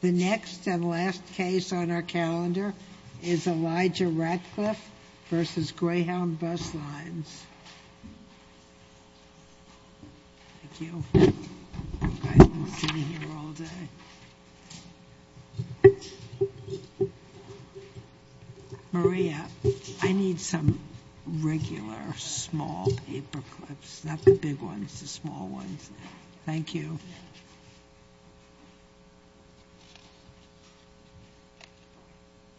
The next and last case on our calendar is Elijah Ratcliff v. Greyhound Bus Lines. Maria, I need some regular small paperclips, not the big ones, the small ones. Thank you.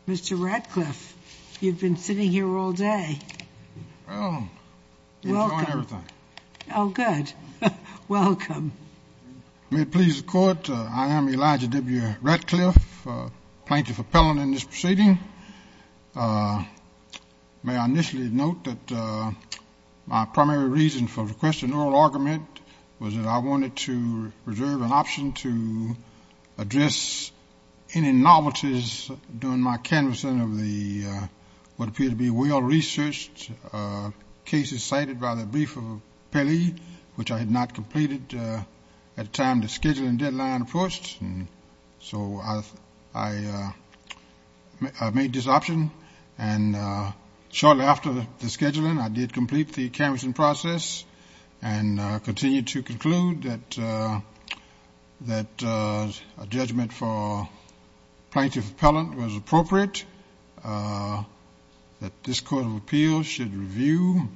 Mr. Ratcliff, you've been sitting here all day. Well, enjoying everything. Oh, good. Welcome. May it please the court, I am Elijah W. Ratcliff, plaintiff appellant in this proceeding. May I initially note that my primary reason for requesting oral argument was that I wanted to reserve an option to address any novelties during my canvassing of the what appear to be well-researched cases cited by the brief of appellee, which I had not completed at the time the scheduling deadline approached. So I made this option, and shortly after the scheduling I did complete the canvassing process and continued to conclude that a judgment for plaintiff appellant was appropriate, that this court of appeals should review,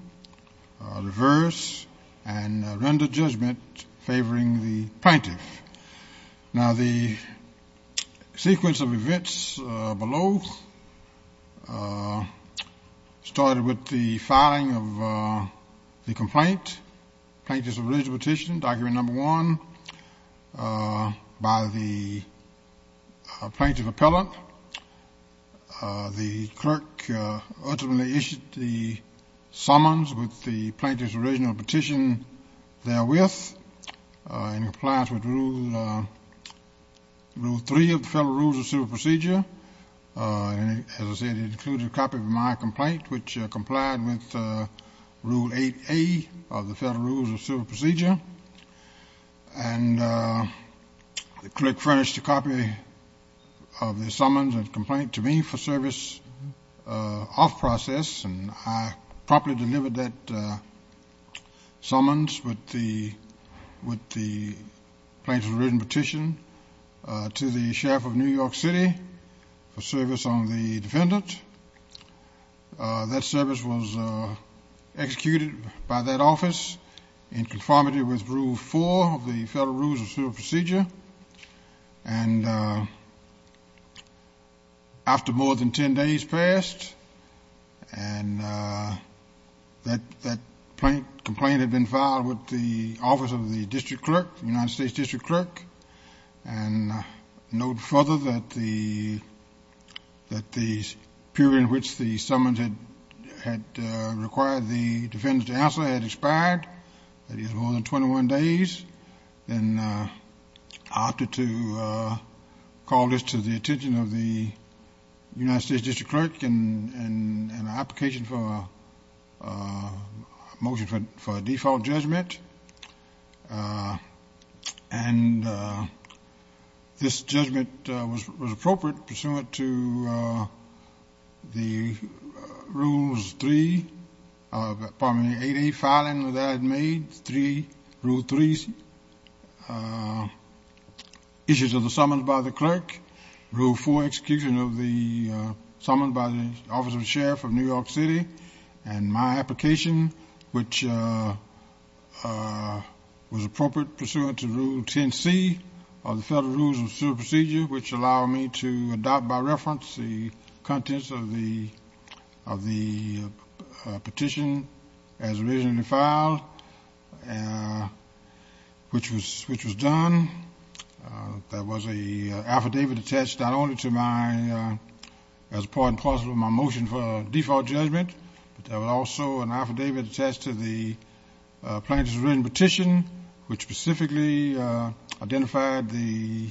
reverse, and render judgment favoring the plaintiff. Now the sequence of events below started with the filing of the complaint, plaintiff's original petition, document number one, by the plaintiff appellant. The clerk ultimately issued the summons with the plaintiff's original petition therewith, in compliance with rule three of the Federal Rules of Civil Procedure. And as I said, it included a copy of my complaint, which complied with rule 8A of the Federal Rules of Civil Procedure. And the clerk furnished a copy of the summons and complaint to me for service of process, and I properly delivered that summons with the plaintiff's original petition to the sheriff of New York City for service on the defendant. That service was executed by that office in conformity with rule four of the Federal Rules of Civil Procedure. And after more than 10 days passed, and that complaint had been filed with the office of the district clerk, United States district clerk. And note further that the period in which the summons had required the defendant to answer had expired, that is more than 21 days. Then I opted to call this to the attention of the United States district clerk in an application for a motion for a default judgment. And this judgment was appropriate pursuant to the rules three of, pardon me, 8A, filing that I had made, three, rule three, issues of the summons by the clerk, rule four, execution of the summons by the office of the sheriff of New York City, and my application, which was appropriate pursuant to rule 10C of the Federal Rules of Civil Procedure, which allowed me to adopt by reference the contents of the petition as originally filed, which was done. There was an affidavit attached not only to my, as part and parcel of my motion for a default judgment, but there was also an affidavit attached to the plaintiff's written which specifically identified the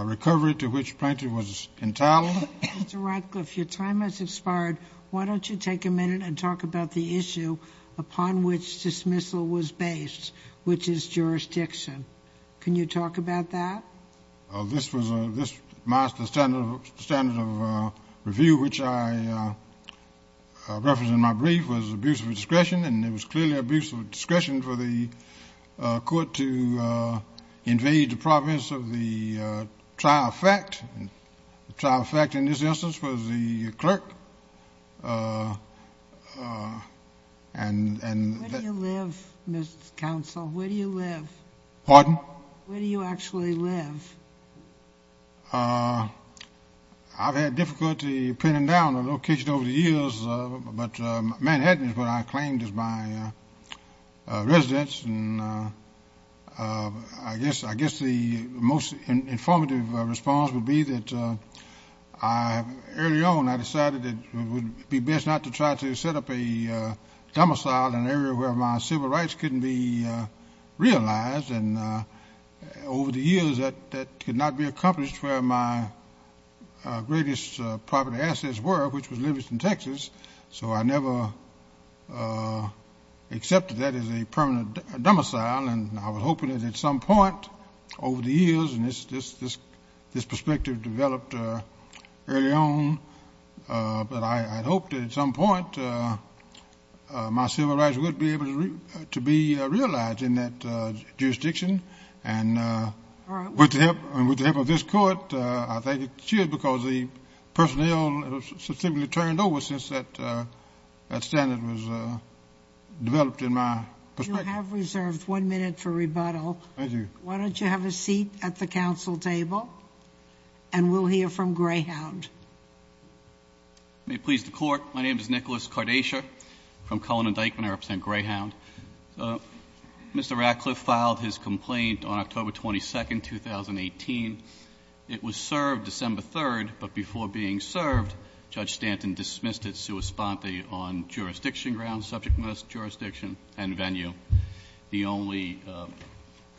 recovery to which plaintiff was entitled. Mr. Radcliffe, your time has expired. Why don't you take a minute and talk about the issue upon which dismissal was based, which is jurisdiction. Can you talk about that? Well, this was a, this, my standard of review, which I referenced in my brief, was abuse of discretion, and it was clearly abuse of discretion for the court to invade the province of the trial fact, and the trial fact in this instance was the clerk. And, and... Where do you live, Mr. Counsel? Where do you live? Pardon? Where do you actually live? Well, I've had difficulty pinning down a location over the years, but Manhattan is what I claimed as my residence, and I guess the most informative response would be that I, early on, I decided it would be best not to try to set up a domicile in an area where my civil rights couldn't be realized, and over the years, that could not be accomplished where my greatest property assets were, which was Livingston, Texas, so I never accepted that as a permanent domicile, and I was hoping that at some point over the years, and this perspective developed early on, but I, I hoped at some point my civil rights would be able to be realized in that jurisdiction, and with the help, and with the help of this court, I think it should, because the personnel has simply turned over since that, that standard was developed in my perspective. You have reserved one minute for rebuttal. Thank you. Why don't you have a seat at the council table? And we'll hear from Greyhound. May it please the Court, my name is Nicholas Kardasher from Cullinan Dykman, I represent Greyhound. Mr. Ratcliffe filed his complaint on October 22nd, 2018. It was served December 3rd, but before being served, Judge Stanton dismissed it sui sponte on jurisdiction grounds, subject matter jurisdiction, and venue. The only,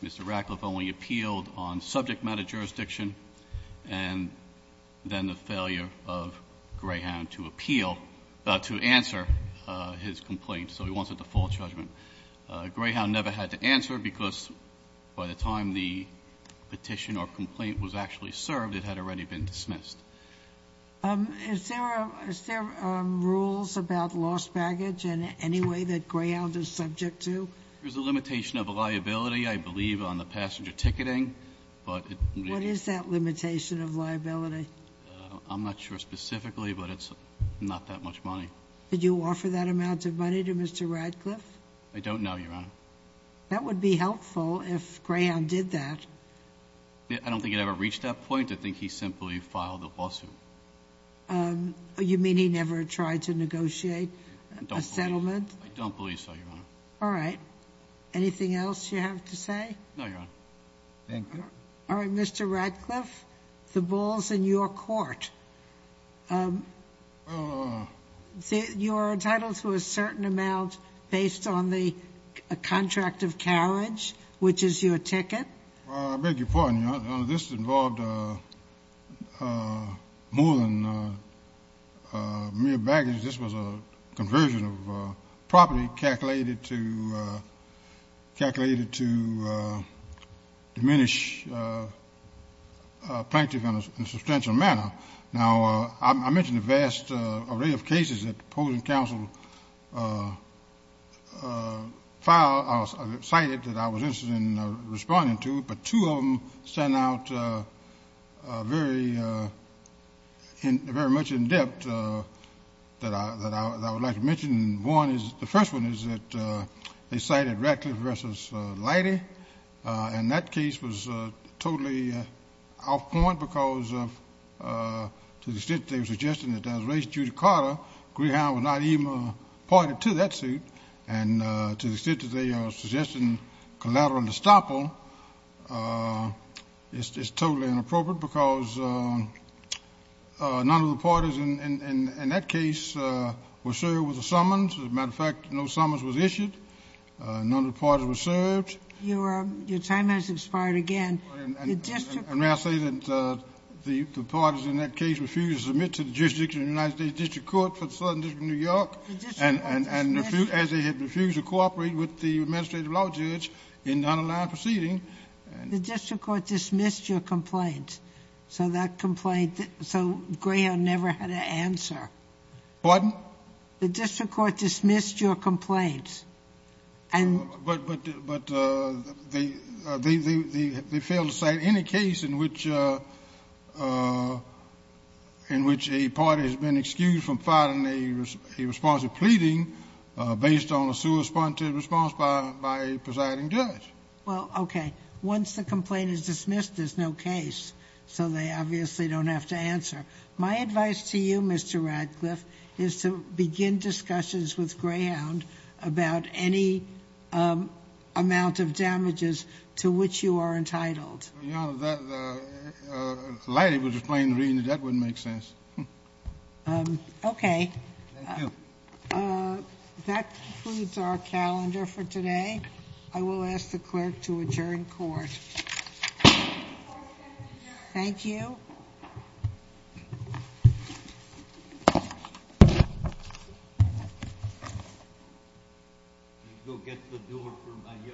Mr. Ratcliffe only appealed on subject matter jurisdiction, and then the failure of Greyhound to appeal, to answer his complaint. So he wants a default judgment. Greyhound never had to answer because by the time the petition or complaint was actually served, it had already been dismissed. Is there a, is there rules about lost baggage in any way that Greyhound is subject to? There's a limitation of liability, I believe, on the passenger ticketing, but it What is that limitation of liability? I'm not sure specifically, but it's not that much money. Did you offer that amount of money to Mr. Ratcliffe? I don't know, Your Honor. That would be helpful if Greyhound did that. I don't think it ever reached that point. I think he simply filed the lawsuit. You mean he never tried to negotiate a settlement? I don't believe so, Your Honor. All right, anything else you have to say? No, Your Honor. Thank you. All right, Mr. Ratcliffe, the ball's in your court. You are entitled to a certain amount based on the contract of carriage, which is your ticket. I beg your pardon, Your Honor. This involved more than mere baggage. This was a conversion of property calculated to diminish plaintiff in a substantial manner. Now, I mentioned a vast array of cases that the opposing counsel filed or cited that I was interested in responding to, but two of them stand out very much in depth that I would like to mention. One is, the first one is that they cited Ratcliffe v. Lighty, and that case was totally off point because of, to the extent that they were suggesting that it was raised due to Carter, Greyhound was not even appointed to that suit. And to the extent that they are suggesting collateral estoppel, it's just totally inappropriate because none of the parties in that case were served with a summons. As a matter of fact, no summons was issued. None of the parties were served. Your time has expired again. And may I say that the parties in that case refused to submit to the jurisdiction of the United States District Court for the Southern District of New York, as they had refused to cooperate with the administrative law judge in the underlying proceeding. The district court dismissed your complaint. So that complaint, so Greyhound never had an answer. Pardon? The district court dismissed your complaint. But they failed to cite any case in which a party has been excused from filing a response to pleading based on a suresponded response by a presiding judge. Well, okay. Once the complaint is dismissed, there's no case. So they obviously don't have to answer. My advice to you, Mr. Radcliffe, is to begin discussions with Greyhound about any amount of damages to which you are entitled. Your Honor, the lady was explaining to me that that wouldn't make sense. Okay. Thank you. That concludes our calendar for today. I will ask the clerk to adjourn court. Thank you. Go get the door for my youngster. Thank you.